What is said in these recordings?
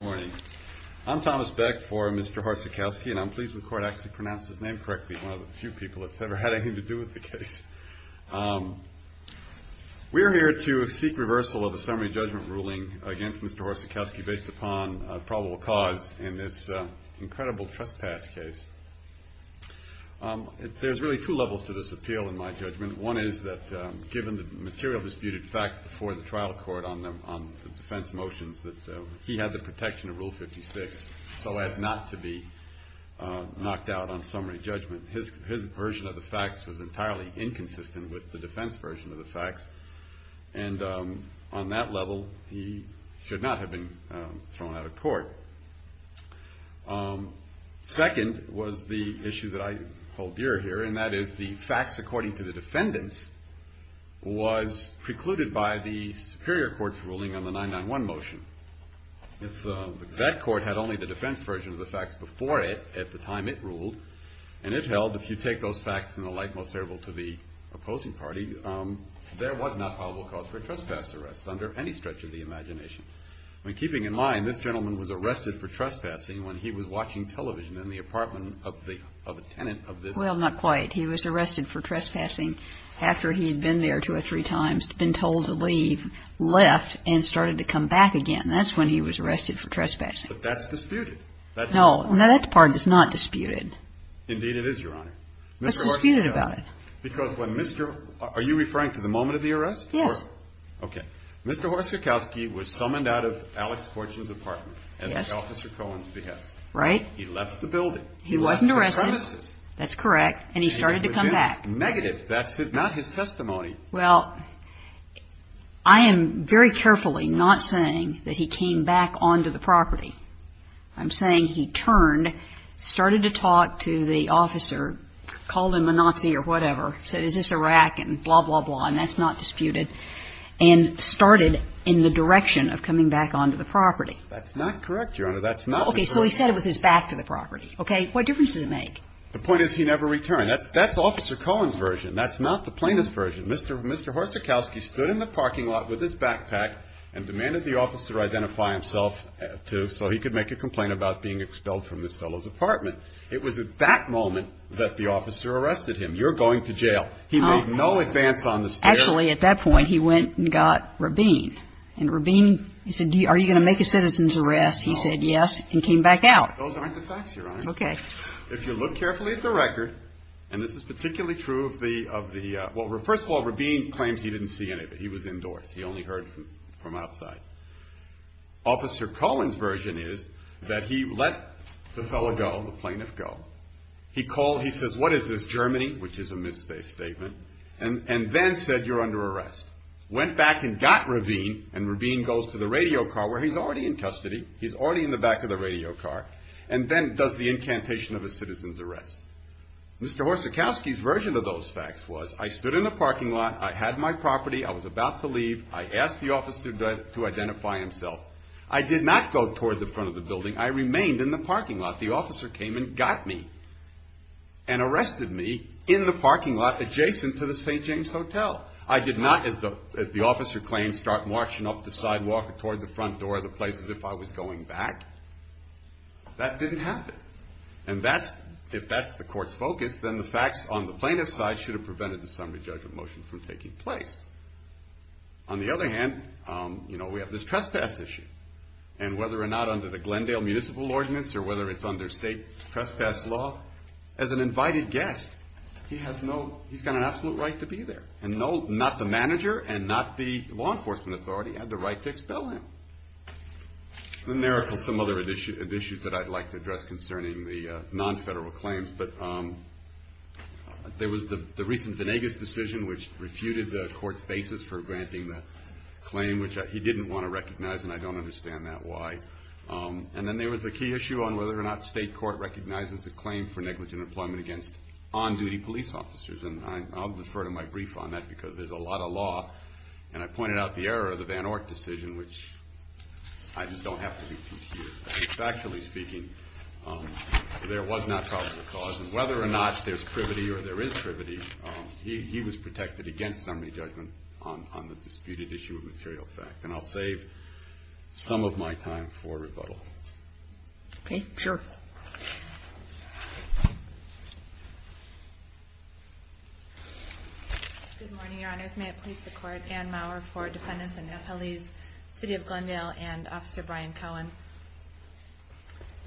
Good morning. I'm Thomas Beck for Mr. Hroscikoski and I'm pleased the court actually pronounced his name correctly, one of the few people that's ever had anything to do with the case. We're here to seek reversal of a summary judgment ruling against Mr. Hroscikoski based upon probable cause in this incredible trespass case. There's really two levels to this appeal in my judgment. One is that given the material disputed facts before the trial court on the defense motions that he had the protection of Rule 56 so as not to be knocked out on summary judgment. His version of the facts was entirely inconsistent with the defense version of the facts and on that level he should not have been thrown out of court. Second was the issue that I hold dear here and that is the facts according to the defendants was precluded by the superior court's ruling on the 991 motion. If that court had only the defense version of the facts before it at the time it ruled and it held if you take those facts in the light most favorable to the opposing party, there was not probable cause for a trespass arrest under any stretch of the imagination. When keeping in mind this gentleman was arrested for trespassing when he was watching television in the apartment of a tenant of this house. Well, not quite. He was arrested for trespassing after he had been there two or three times, been told to leave, left and started to come back again. That's when he was arrested for trespassing. But that's disputed. No, that part is not disputed. Indeed it is, Your Honor. What's disputed about it? Because when Mr. Are you referring to the moment of the arrest? Yes. Okay. Mr. Horsakowski was summoned out of Alex Fortune's apartment. Yes. At Officer Cohen's behest. Right. He left the building. He wasn't arrested. He left the premises. That's correct. And he started to come back. Negative. That's not his testimony. Well, I am very carefully not saying that he came back onto the property. I'm saying he turned, started to talk to the officer, called him a Nazi or whatever, said is this Iraq and blah, blah, blah, and that's not disputed. And started in the direction of coming back onto the property. That's not correct, Your Honor. That's not. Okay. So he said it with his back to the property. Okay. What difference does it make? The point is he never returned. That's Officer Cohen's version. That's not the plaintiff's version. Mr. Horsakowski stood in the parking lot with his backpack and demanded the officer identify himself, too, so he could make a complaint about being expelled from this fellow's apartment. It was at that moment that the officer arrested him. You're going to jail. He made no advance on the stairs. Actually, at that point, he went and got Rabin. And Rabin, he said, are you going to make a citizen's arrest? He said yes and came back out. Those aren't the facts, Your Honor. Okay. If you look carefully at the record, and this is particularly true of the, well, first of all, Rabin claims he didn't see anybody. He was indoors. He only heard from outside. Officer Cohen's version is that he let the fellow go, the plaintiff go. He called, he says, what is this, Germany, which is a misplaced statement, and then said you're under arrest. Went back and got Rabin, and Rabin goes to the radio car where he's already in custody. He's already in the back of the radio car and then does the incantation of a citizen's arrest. Mr. Horsakowski's version of those facts was I stood in the parking lot, I had my property, I was about to leave, I asked the officer to identify himself. I did not go toward the front of the building. I remained in the parking lot. The officer came and got me and arrested me in the parking lot adjacent to the St. James Hotel. I did not, as the officer claims, start marching up the sidewalk or toward the front door of the place as if I was going back. That didn't happen, and if that's the court's focus, then the facts on the plaintiff's side should have prevented the summary judgment motion from taking place. On the other hand, you know, we have this trespass issue, and whether or not under the Glendale Municipal Ordinance or whether it's under state trespass law, as an invited guest, he has no, he's got an absolute right to be there, and not the manager and not the law enforcement authority had the right to expel him. And there are some other issues that I'd like to address concerning the non-federal claims, but there was the recent Venegas decision which refuted the court's basis for granting the claim, which he didn't want to recognize, and I don't understand that why. And then there was the key issue on whether or not state court recognizes the claim for negligent employment against on-duty police officers, and I'll defer to my brief on that because there's a lot of law, and I pointed out the error of the Van Orck decision, which I don't have to be confused. Factually speaking, there was not probable cause, and whether or not there's privity or there is privity, he was protected against summary judgment on the disputed issue of material fact, and I'll save some of my time for rebuttal. Okay, sure. Good morning, Your Honors. May it please the Court. Anne Maurer for Defendants of Nepalese City of Glendale and Officer Brian Cohen.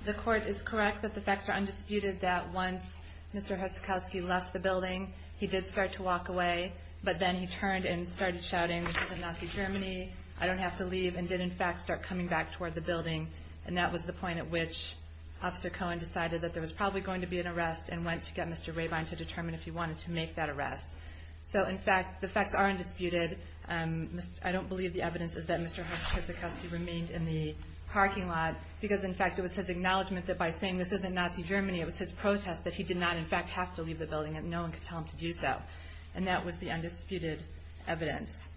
The Court is correct that the facts are undisputed that once Mr. Husikowski left the building, he did start to walk away, but then he turned and started shouting, this is Nazi Germany, I don't have to leave, and did in fact start coming back toward the building, and that was the point at which Officer Cohen decided that there was probably going to be an arrest and went to get Mr. Rabine to determine if he wanted to make that arrest. So, in fact, the facts are undisputed. I don't believe the evidence is that Mr. Husikowski remained in the parking lot, because, in fact, it was his acknowledgment that by saying this isn't Nazi Germany, it was his protest that he did not, in fact, have to leave the building and no one could tell him to do so, and that was the undisputed evidence.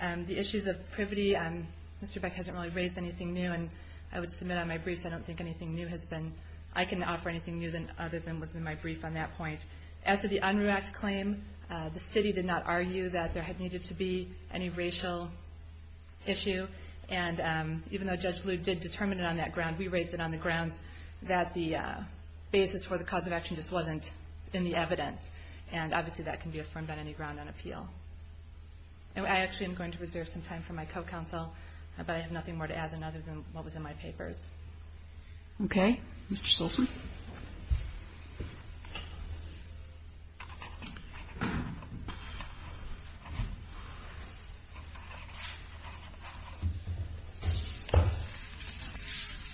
The issues of privity, Mr. Beck hasn't really raised anything new, and I would submit on my briefs I don't think anything new has been, I can offer anything new other than was in my brief on that point. As to the UNRWAC claim, the city did not argue that there had needed to be any racial issue, and even though Judge Lew did determine it on that ground, we raised it on the grounds that the basis for the cause of action just wasn't in the evidence, and obviously that can be affirmed on any ground on appeal. I actually am going to reserve some time for my co-counsel, but I have nothing more to add than other than what was in my papers. Okay. Mr. Stilson?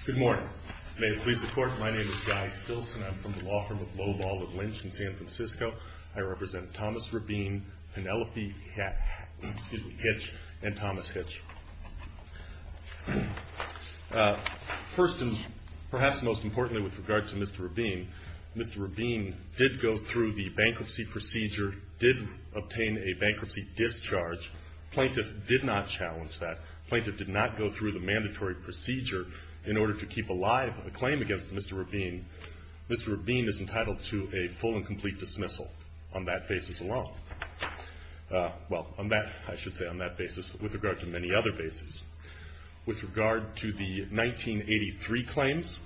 Good morning. May it please the Court, my name is Guy Stilson. I'm from the law firm of Lowell Ball and Lynch in San Francisco. I represent Thomas Rabin, Penelope Hitch, and Thomas Hitch. First and perhaps most importantly with regard to Mr. Rabin, Mr. Rabin did go through the bankruptcy procedure, did obtain a bankruptcy discharge. Plaintiff did not challenge that. Plaintiff did not go through the mandatory procedure in order to keep alive a claim against Mr. Rabin. Mr. Rabin is entitled to a full and complete dismissal on that basis alone. Well, on that, I should say on that basis with regard to many other bases. With regard to the 1983 claims,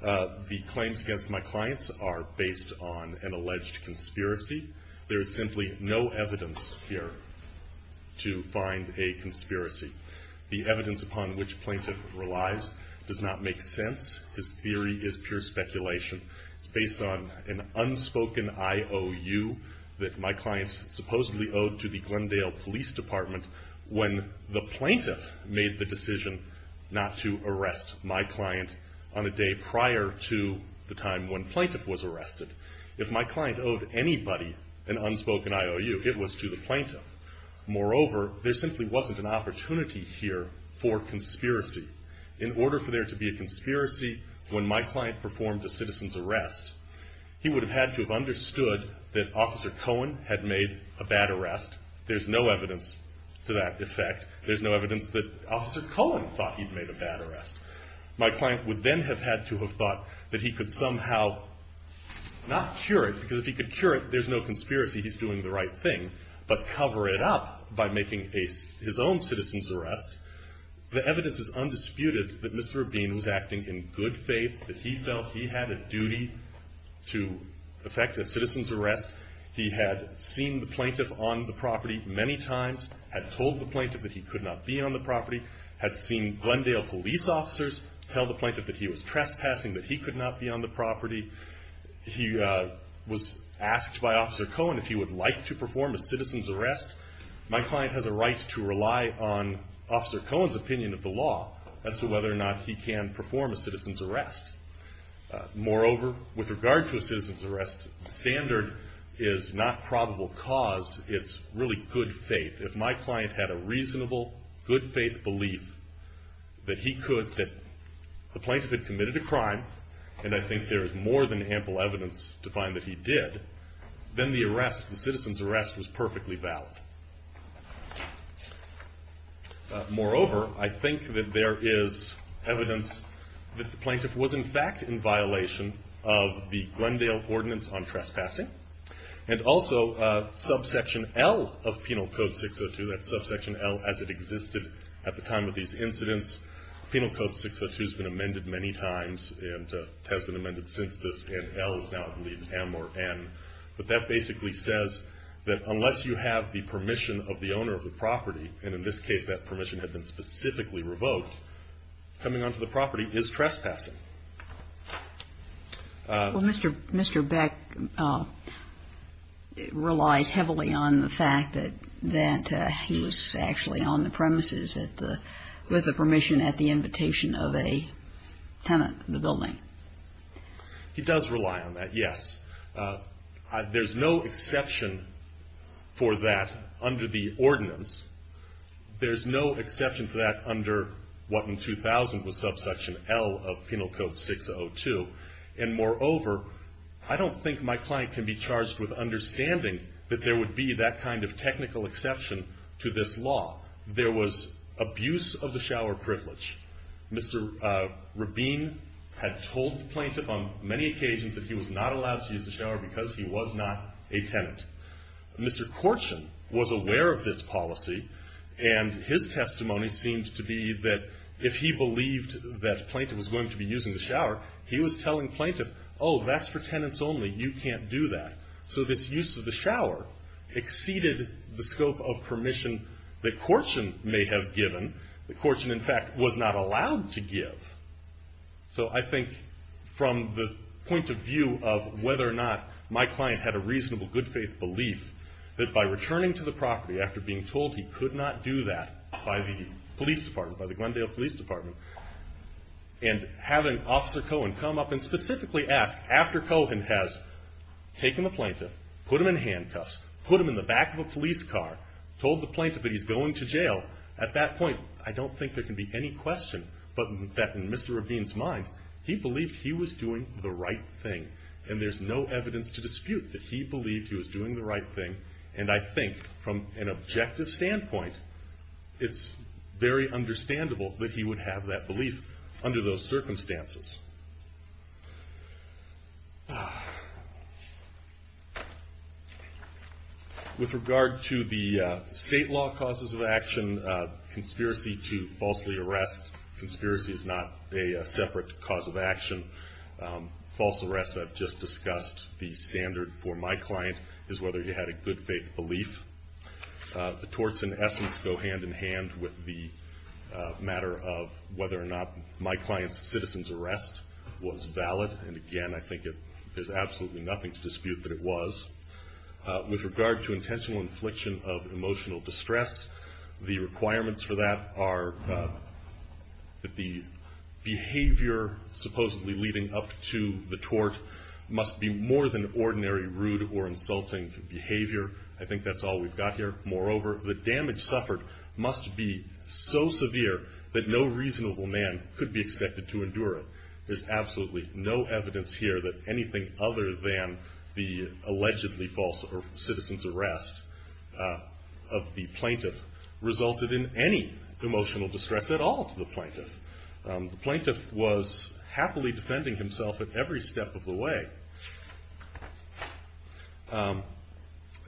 the claims against my clients are based on an alleged conspiracy. There is simply no evidence here to find a conspiracy. The evidence upon which plaintiff relies does not make sense. His theory is pure speculation. It's based on an unspoken IOU that my client supposedly owed to the Glendale Police Department when the plaintiff made the decision not to arrest my client on a day prior to the time when plaintiff was arrested. If my client owed anybody an unspoken IOU, it was to the plaintiff. Moreover, there simply wasn't an opportunity here for conspiracy. In order for there to be a conspiracy when my client performed a citizen's arrest, he would have had to have understood that Officer Cohen had made a bad arrest. There's no evidence to that effect. There's no evidence that Officer Cohen thought he'd made a bad arrest. My client would then have had to have thought that he could somehow not cure it, because if he could cure it, there's no conspiracy. He's doing the right thing. But cover it up by making his own citizen's arrest. The evidence is undisputed that Mr. Rabin was acting in good faith, that he felt he had a duty to effect a citizen's arrest. He had seen the plaintiff on the property many times, had told the plaintiff that he could not be on the property, had seen Glendale police officers tell the plaintiff that he was trespassing, that he could not be on the property. He was asked by Officer Cohen if he would like to perform a citizen's arrest. My client has a right to rely on Officer Cohen's opinion of the law as to whether or not he can perform a citizen's arrest. Moreover, with regard to a citizen's arrest, the standard is not probable cause. It's really good faith. If my client had a reasonable, good faith belief that he could, that the plaintiff had committed a crime, and I think there is more than ample evidence to find that he did, then the arrest, the citizen's arrest, was perfectly valid. Moreover, I think that there is evidence that the plaintiff was in fact in violation of the Glendale Ordinance on Trespassing, and also subsection L of Penal Code 602, that's subsection L as it existed at the time of these incidents. Penal Code 602 has been amended many times and has been amended since this, and L is now, I believe, M or N. But that basically says that unless you have the permission of the owner of the property, and in this case that permission had been specifically revoked, coming onto the property is trespassing. Well, Mr. Beck relies heavily on the fact that he was actually on the premises with the permission at the invitation of a tenant in the building. He does rely on that, yes. There's no exception for that under the ordinance. There's no exception for that under what in 2000 was subsection L of Penal Code 602. And moreover, I don't think my client can be charged with understanding that there would be that kind of technical exception to this law. There was abuse of the shower privilege. Mr. Rabin had told the plaintiff on many occasions that he was not allowed to use the shower because he was not a tenant. Mr. Korshen was aware of this policy, and his testimony seemed to be that if he believed that a plaintiff was going to be using the shower, he was telling plaintiff, oh, that's for tenants only. You can't do that. So this use of the shower exceeded the scope of permission that Korshen may have given. Korshen, in fact, was not allowed to give. So I think from the point of view of whether or not my client had a reasonable good faith belief, that by returning to the property after being told he could not do that by the police department, by the Glendale Police Department, and having Officer Cohen come up and specifically ask after Cohen has taken the plaintiff, put him in handcuffs, put him in the back of a police car, told the plaintiff that he's going to jail, at that point I don't think there can be any question but that in Mr. Rabin's mind, he believed he was doing the right thing. And there's no evidence to dispute that he believed he was doing the right thing. And I think from an objective standpoint, it's very understandable that he would have that belief under those circumstances. With regard to the state law causes of action, conspiracy to falsely arrest. Conspiracy is not a separate cause of action. False arrest, I've just discussed. The standard for my client is whether he had a good faith belief. The torts in essence go hand in hand with the matter of whether or not my client's citizen's arrest was valid. And again, I think there's absolutely nothing to dispute that it was. With regard to intentional infliction of emotional distress, the requirements for that are that the behavior supposedly leading up to the tort must be more than ordinary rude or insulting behavior. I think that's all we've got here. Moreover, the damage suffered must be so severe that no reasonable man could be expected to endure it. There's absolutely no evidence here that anything other than the allegedly false citizen's arrest of the plaintiff resulted in any emotional distress at all to the plaintiff. The plaintiff was happily defending himself at every step of the way.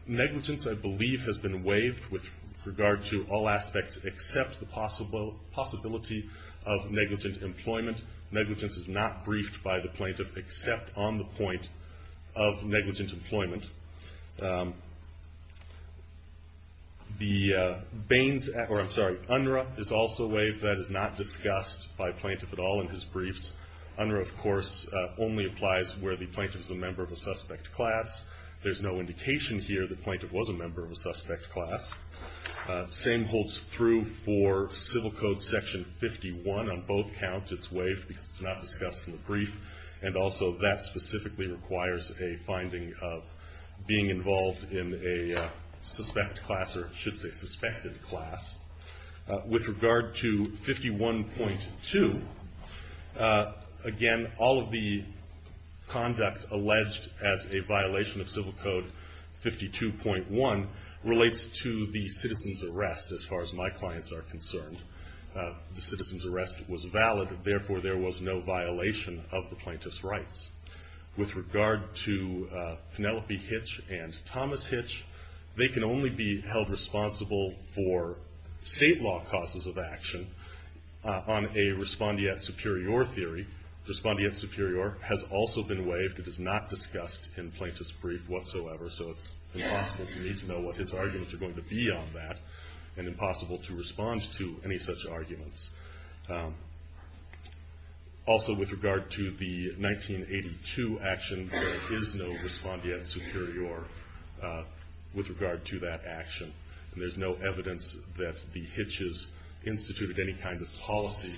Negligence, I believe, has been waived with regard to all aspects except the possibility of negligent employment. Negligence is not briefed by the plaintiff except on the point of negligent employment. The Baines, or I'm sorry, UNRRA is also waived. That is not discussed by plaintiff at all in his briefs. UNRRA, of course, only applies where the plaintiff is a member of a suspect class. There's no indication here the plaintiff was a member of a suspect class. Same holds true for Civil Code Section 51. On both counts, it's waived because it's not discussed in the brief. And also that specifically requires a finding of being involved in a suspect class or I should say suspected class. With regard to 51.2, again, all of the conduct alleged as a violation of Civil Code 52.1 relates to the citizen's arrest as far as my clients are concerned. The citizen's arrest was valid. Therefore, there was no violation of the plaintiff's rights. With regard to Penelope Hitch and Thomas Hitch, they can only be held responsible for state law causes of action on a respondeat superior theory. Respondeat superior has also been waived. It is not discussed in plaintiff's brief whatsoever, so it's impossible for me to know what his arguments are going to be on that and impossible to respond to any such arguments. Also, with regard to the 1982 action, there is no respondeat superior with regard to that action. And there's no evidence that the Hitches instituted any kind of policy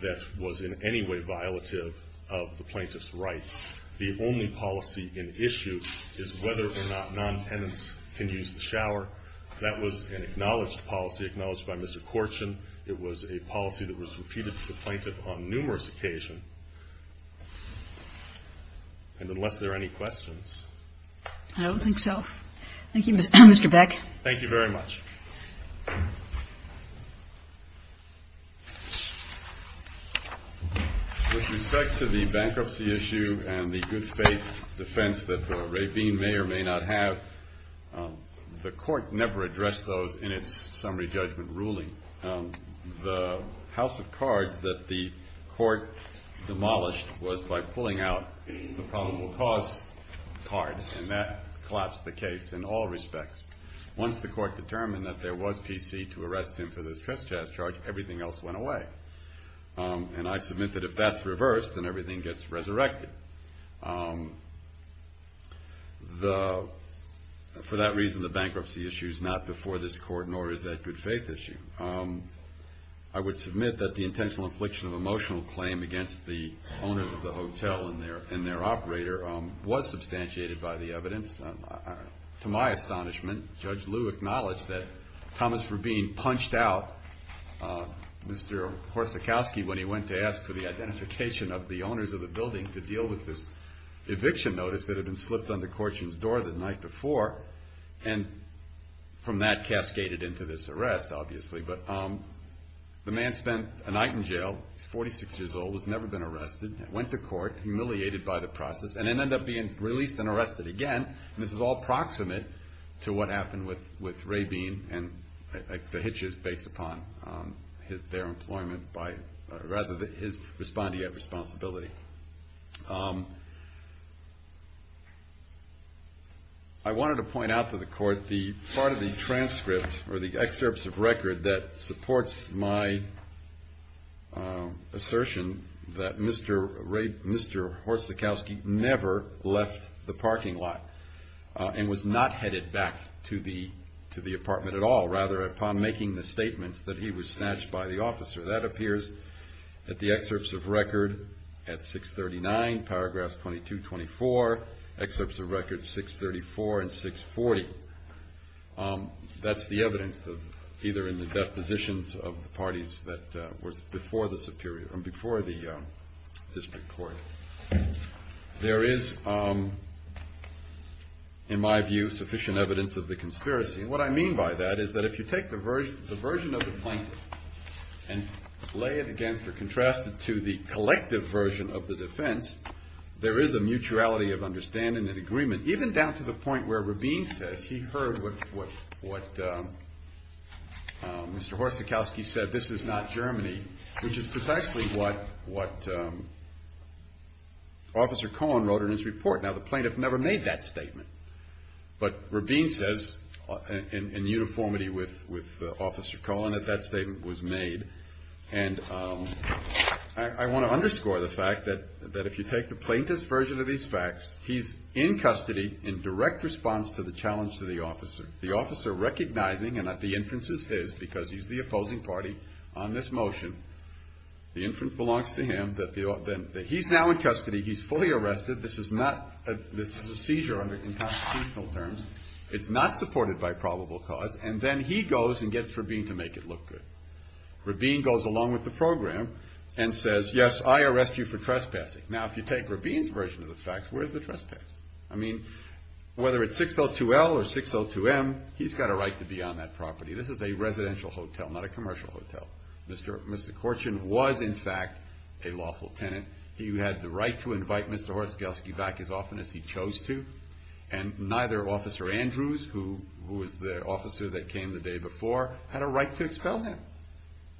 that was in any way violative of the plaintiff's rights. The only policy in issue is whether or not non-tenants can use the shower. That was an acknowledged policy, acknowledged by Mr. Korchin. It was a policy that was repeated to the plaintiff on numerous occasions. And unless there are any questions. I don't think so. Thank you, Mr. Beck. Thank you very much. With respect to the bankruptcy issue and the good faith defense that the ravine may or may not have, the court never addressed those in its summary judgment ruling. The house of cards that the court demolished was by pulling out the probable cause card, and that collapsed the case in all respects. Once the court determined that there was PC to arrest him for this trespass charge, everything else went away. And I submit that if that's reversed, then everything gets resurrected. For that reason, the bankruptcy issue is not before this court, nor is that good faith issue. I would submit that the intentional infliction of emotional claim against the owner of the hotel and their operator was substantiated by the evidence. To my astonishment, Judge Liu acknowledged that Thomas Rubin punched out Mr. Horsakowski when he went to ask for the identification of the owners of the building to deal with this eviction notice that had been slipped on the courtian's door the night before. And from that cascaded into this arrest, obviously. But the man spent a night in jail. He's 46 years old. He's never been arrested. Went to court, humiliated by the process, and then ended up being released and arrested again. And this is all proximate to what happened with Rabin and the hitches based upon their employment by, rather, his respondeat responsibility. I wanted to point out to the court the part of the transcript or the excerpts of record that supports my assertion that Mr. Horsakowski never left the parking lot and was not headed back to the apartment at all, rather, upon making the statements that he was snatched by the officer. That appears at the excerpts of record at 639, paragraphs 22-24, excerpts of record 634 and 640. That's the evidence either in the depositions of the parties that were before the district court. There is, in my view, sufficient evidence of the conspiracy. And what I mean by that is that if you take the version of the plaintiff and lay it against or contrast it to the collective version of the defense, there is a mutuality of understanding and agreement, even down to the point where Rabin says he heard what Mr. Horsakowski said, this is not Germany, which is precisely what Officer Cohen wrote in his report. Now, the plaintiff never made that statement, but Rabin says in uniformity with Officer Cohen that that statement was made. And I want to underscore the fact that if you take the plaintiff's version of these facts, he's in custody in direct response to the challenge to the officer. The officer recognizing that the inference is his because he's the opposing party on this motion, the inference belongs to him, that he's now in custody, he's fully arrested, this is a seizure in constitutional terms, it's not supported by probable cause, and then he goes and gets Rabin to make it look good. Rabin goes along with the program and says, yes, I arrest you for trespassing. Now, if you take Rabin's version of the facts, where's the trespass? I mean, whether it's 602L or 602M, he's got a right to be on that property. This is a residential hotel, not a commercial hotel. Mr. Korchin was, in fact, a lawful tenant. He had the right to invite Mr. Horsakowski back as often as he chose to, and neither Officer Andrews, who was the officer that came the day before, had a right to expel him.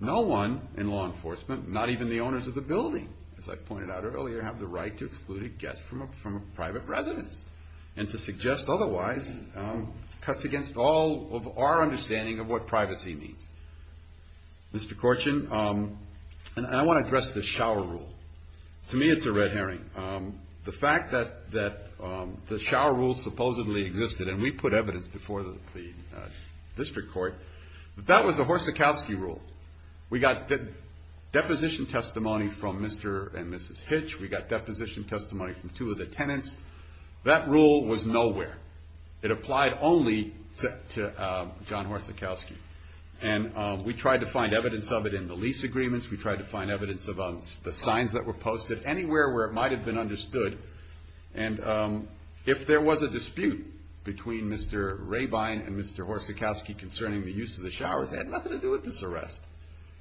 No one in law enforcement, not even the owners of the building, as I pointed out earlier, have the right to exclude a guest from a private residence, and to suggest otherwise cuts against all of our understanding of what privacy means. Mr. Korchin, and I want to address the shower rule. To me, it's a red herring. The fact that the shower rule supposedly existed, and we put evidence before the district court, that that was a Horsakowski rule. We got deposition testimony from Mr. and Mrs. Hitch. We got deposition testimony from two of the tenants. That rule was nowhere. It applied only to John Horsakowski. And we tried to find evidence of it in the lease agreements. We tried to find evidence of the signs that were posted, anywhere where it might have been understood. And if there was a dispute between Mr. Rabine and Mr. Horsakowski concerning the use of the showers, it had nothing to do with this arrest.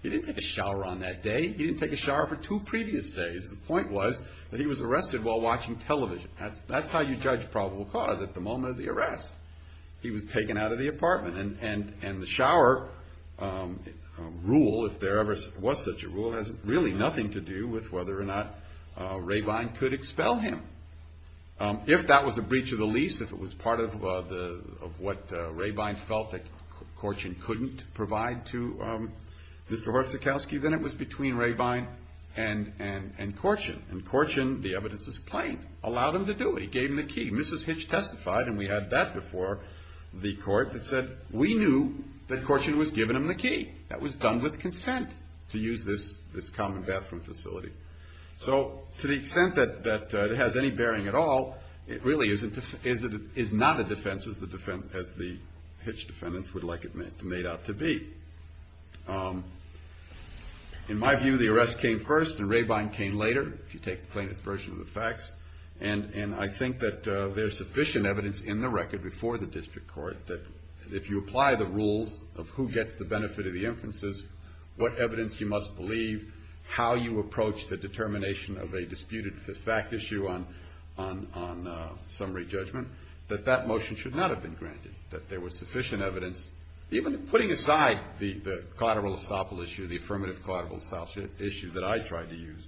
He didn't take a shower on that day. He didn't take a shower for two previous days. The point was that he was arrested while watching television. That's how you judge probable cause at the moment of the arrest. He was taken out of the apartment. And the shower rule, if there ever was such a rule, has really nothing to do with whether or not Rabine could expel him. If that was a breach of the lease, if it was part of what Rabine felt that Korchin couldn't provide to Mr. Horsakowski, then it was between Rabine and Korchin. And Korchin, the evidence is plain, allowed him to do it. He gave him the key. Mrs. Hitch testified, and we had that before the court, that said, we knew that Korchin was giving him the key. That was done with consent to use this common bathroom facility. So to the extent that it has any bearing at all, it really is not a defense as the Hitch defendants would like it made out to be. In my view, the arrest came first and Rabine came later, if you take the plainest version of the facts. And I think that there's sufficient evidence in the record before the district court that if you apply the rules of who gets the benefit of the inferences, what evidence you must believe, how you approach the determination of a disputed fact issue on summary judgment, that that motion should not have been granted, that there was sufficient evidence, even putting aside the collateral estoppel issue, the affirmative collateral estoppel issue that I tried to use.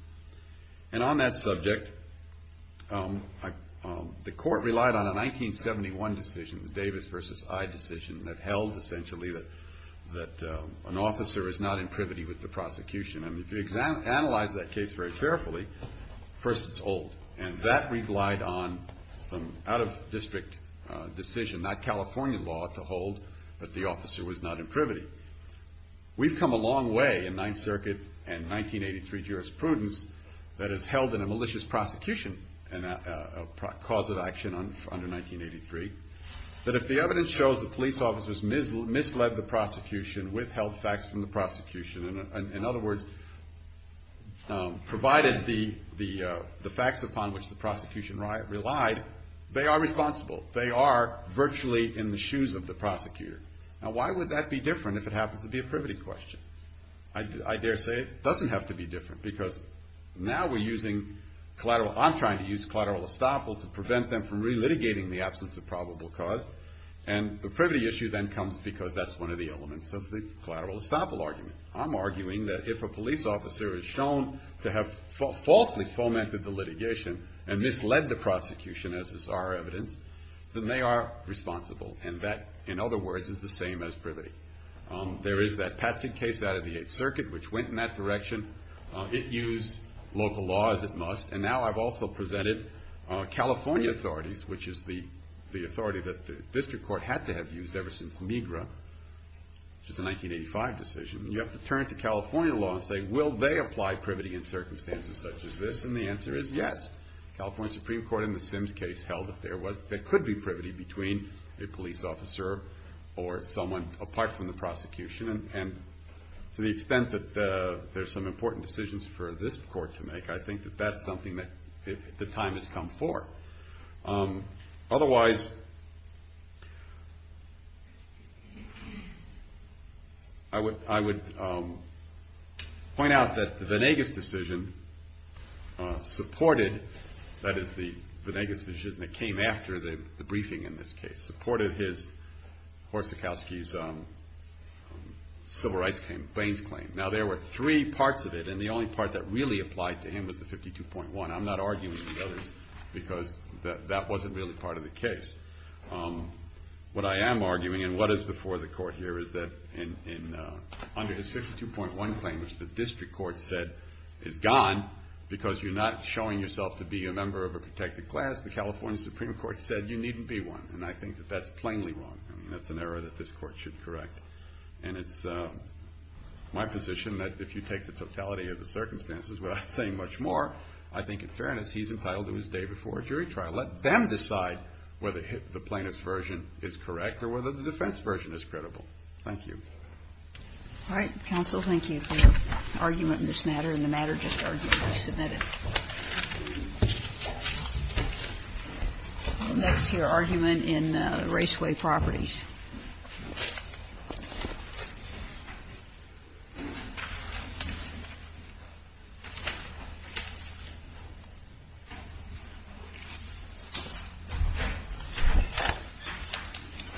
And on that subject, the court relied on a 1971 decision, the Davis versus I decision, that held essentially that an officer is not in privity with the prosecution. And if you analyze that case very carefully, first it's old. And that relied on some out-of-district decision, not California law, to hold that the officer was not in privity. We've come a long way in Ninth Circuit and 1983 jurisprudence that has held in a malicious prosecution a cause of action under 1983. But if the evidence shows the police officers misled the prosecution, withheld facts from the prosecution, in other words provided the facts upon which the prosecution relied, they are responsible. They are virtually in the shoes of the prosecutor. Now why would that be different if it happens to be a privity question? I dare say it doesn't have to be different because now we're using collateral. I'm trying to use collateral estoppel to prevent them from relitigating the absence of probable cause. And the privity issue then comes because that's one of the elements of the collateral estoppel argument. I'm arguing that if a police officer is shown to have falsely fomented the litigation and misled the prosecution, as is our evidence, then they are responsible. And that, in other words, is the same as privity. There is that Patzig case out of the Eighth Circuit which went in that direction. It used local law as it must. And now I've also presented California authorities, which is the authority that the district court had to have used ever since MiGRA, which is a 1985 decision. You have to turn to California law and say, will they apply privity in circumstances such as this? And the answer is yes. The California Supreme Court in the Sims case held that there could be privity between a police officer or someone apart from the prosecution. And to the extent that there's some important decisions for this court to make, I think that that's something that the time has come for. Otherwise... I would point out that the Venegas decision supported... that is, the Venegas decision that came after the briefing in this case, supported Horsakowski's civil rights claim, Bain's claim. Now, there were three parts of it, and the only part that really applied to him was the 52.1. I'm not arguing with others, because that wasn't really part of the case. What I am arguing, and what is before the court here, is that under his 52.1 claim, which the district court said is gone because you're not showing yourself to be a member of a protected class, the California Supreme Court said you needn't be one. And I think that that's plainly wrong. I mean, that's an error that this court should correct. And it's my position that if you take the totality of the circumstances without saying much more, I think in fairness, he's entitled to his day before a jury trial. Let them decide whether the plaintiff's version is correct or whether the defense version is credible. Thank you. All right. Counsel, thank you for your argument in this matter, and the matter just argued to be submitted. Next to your argument in Raceway Properties. Thank you very much.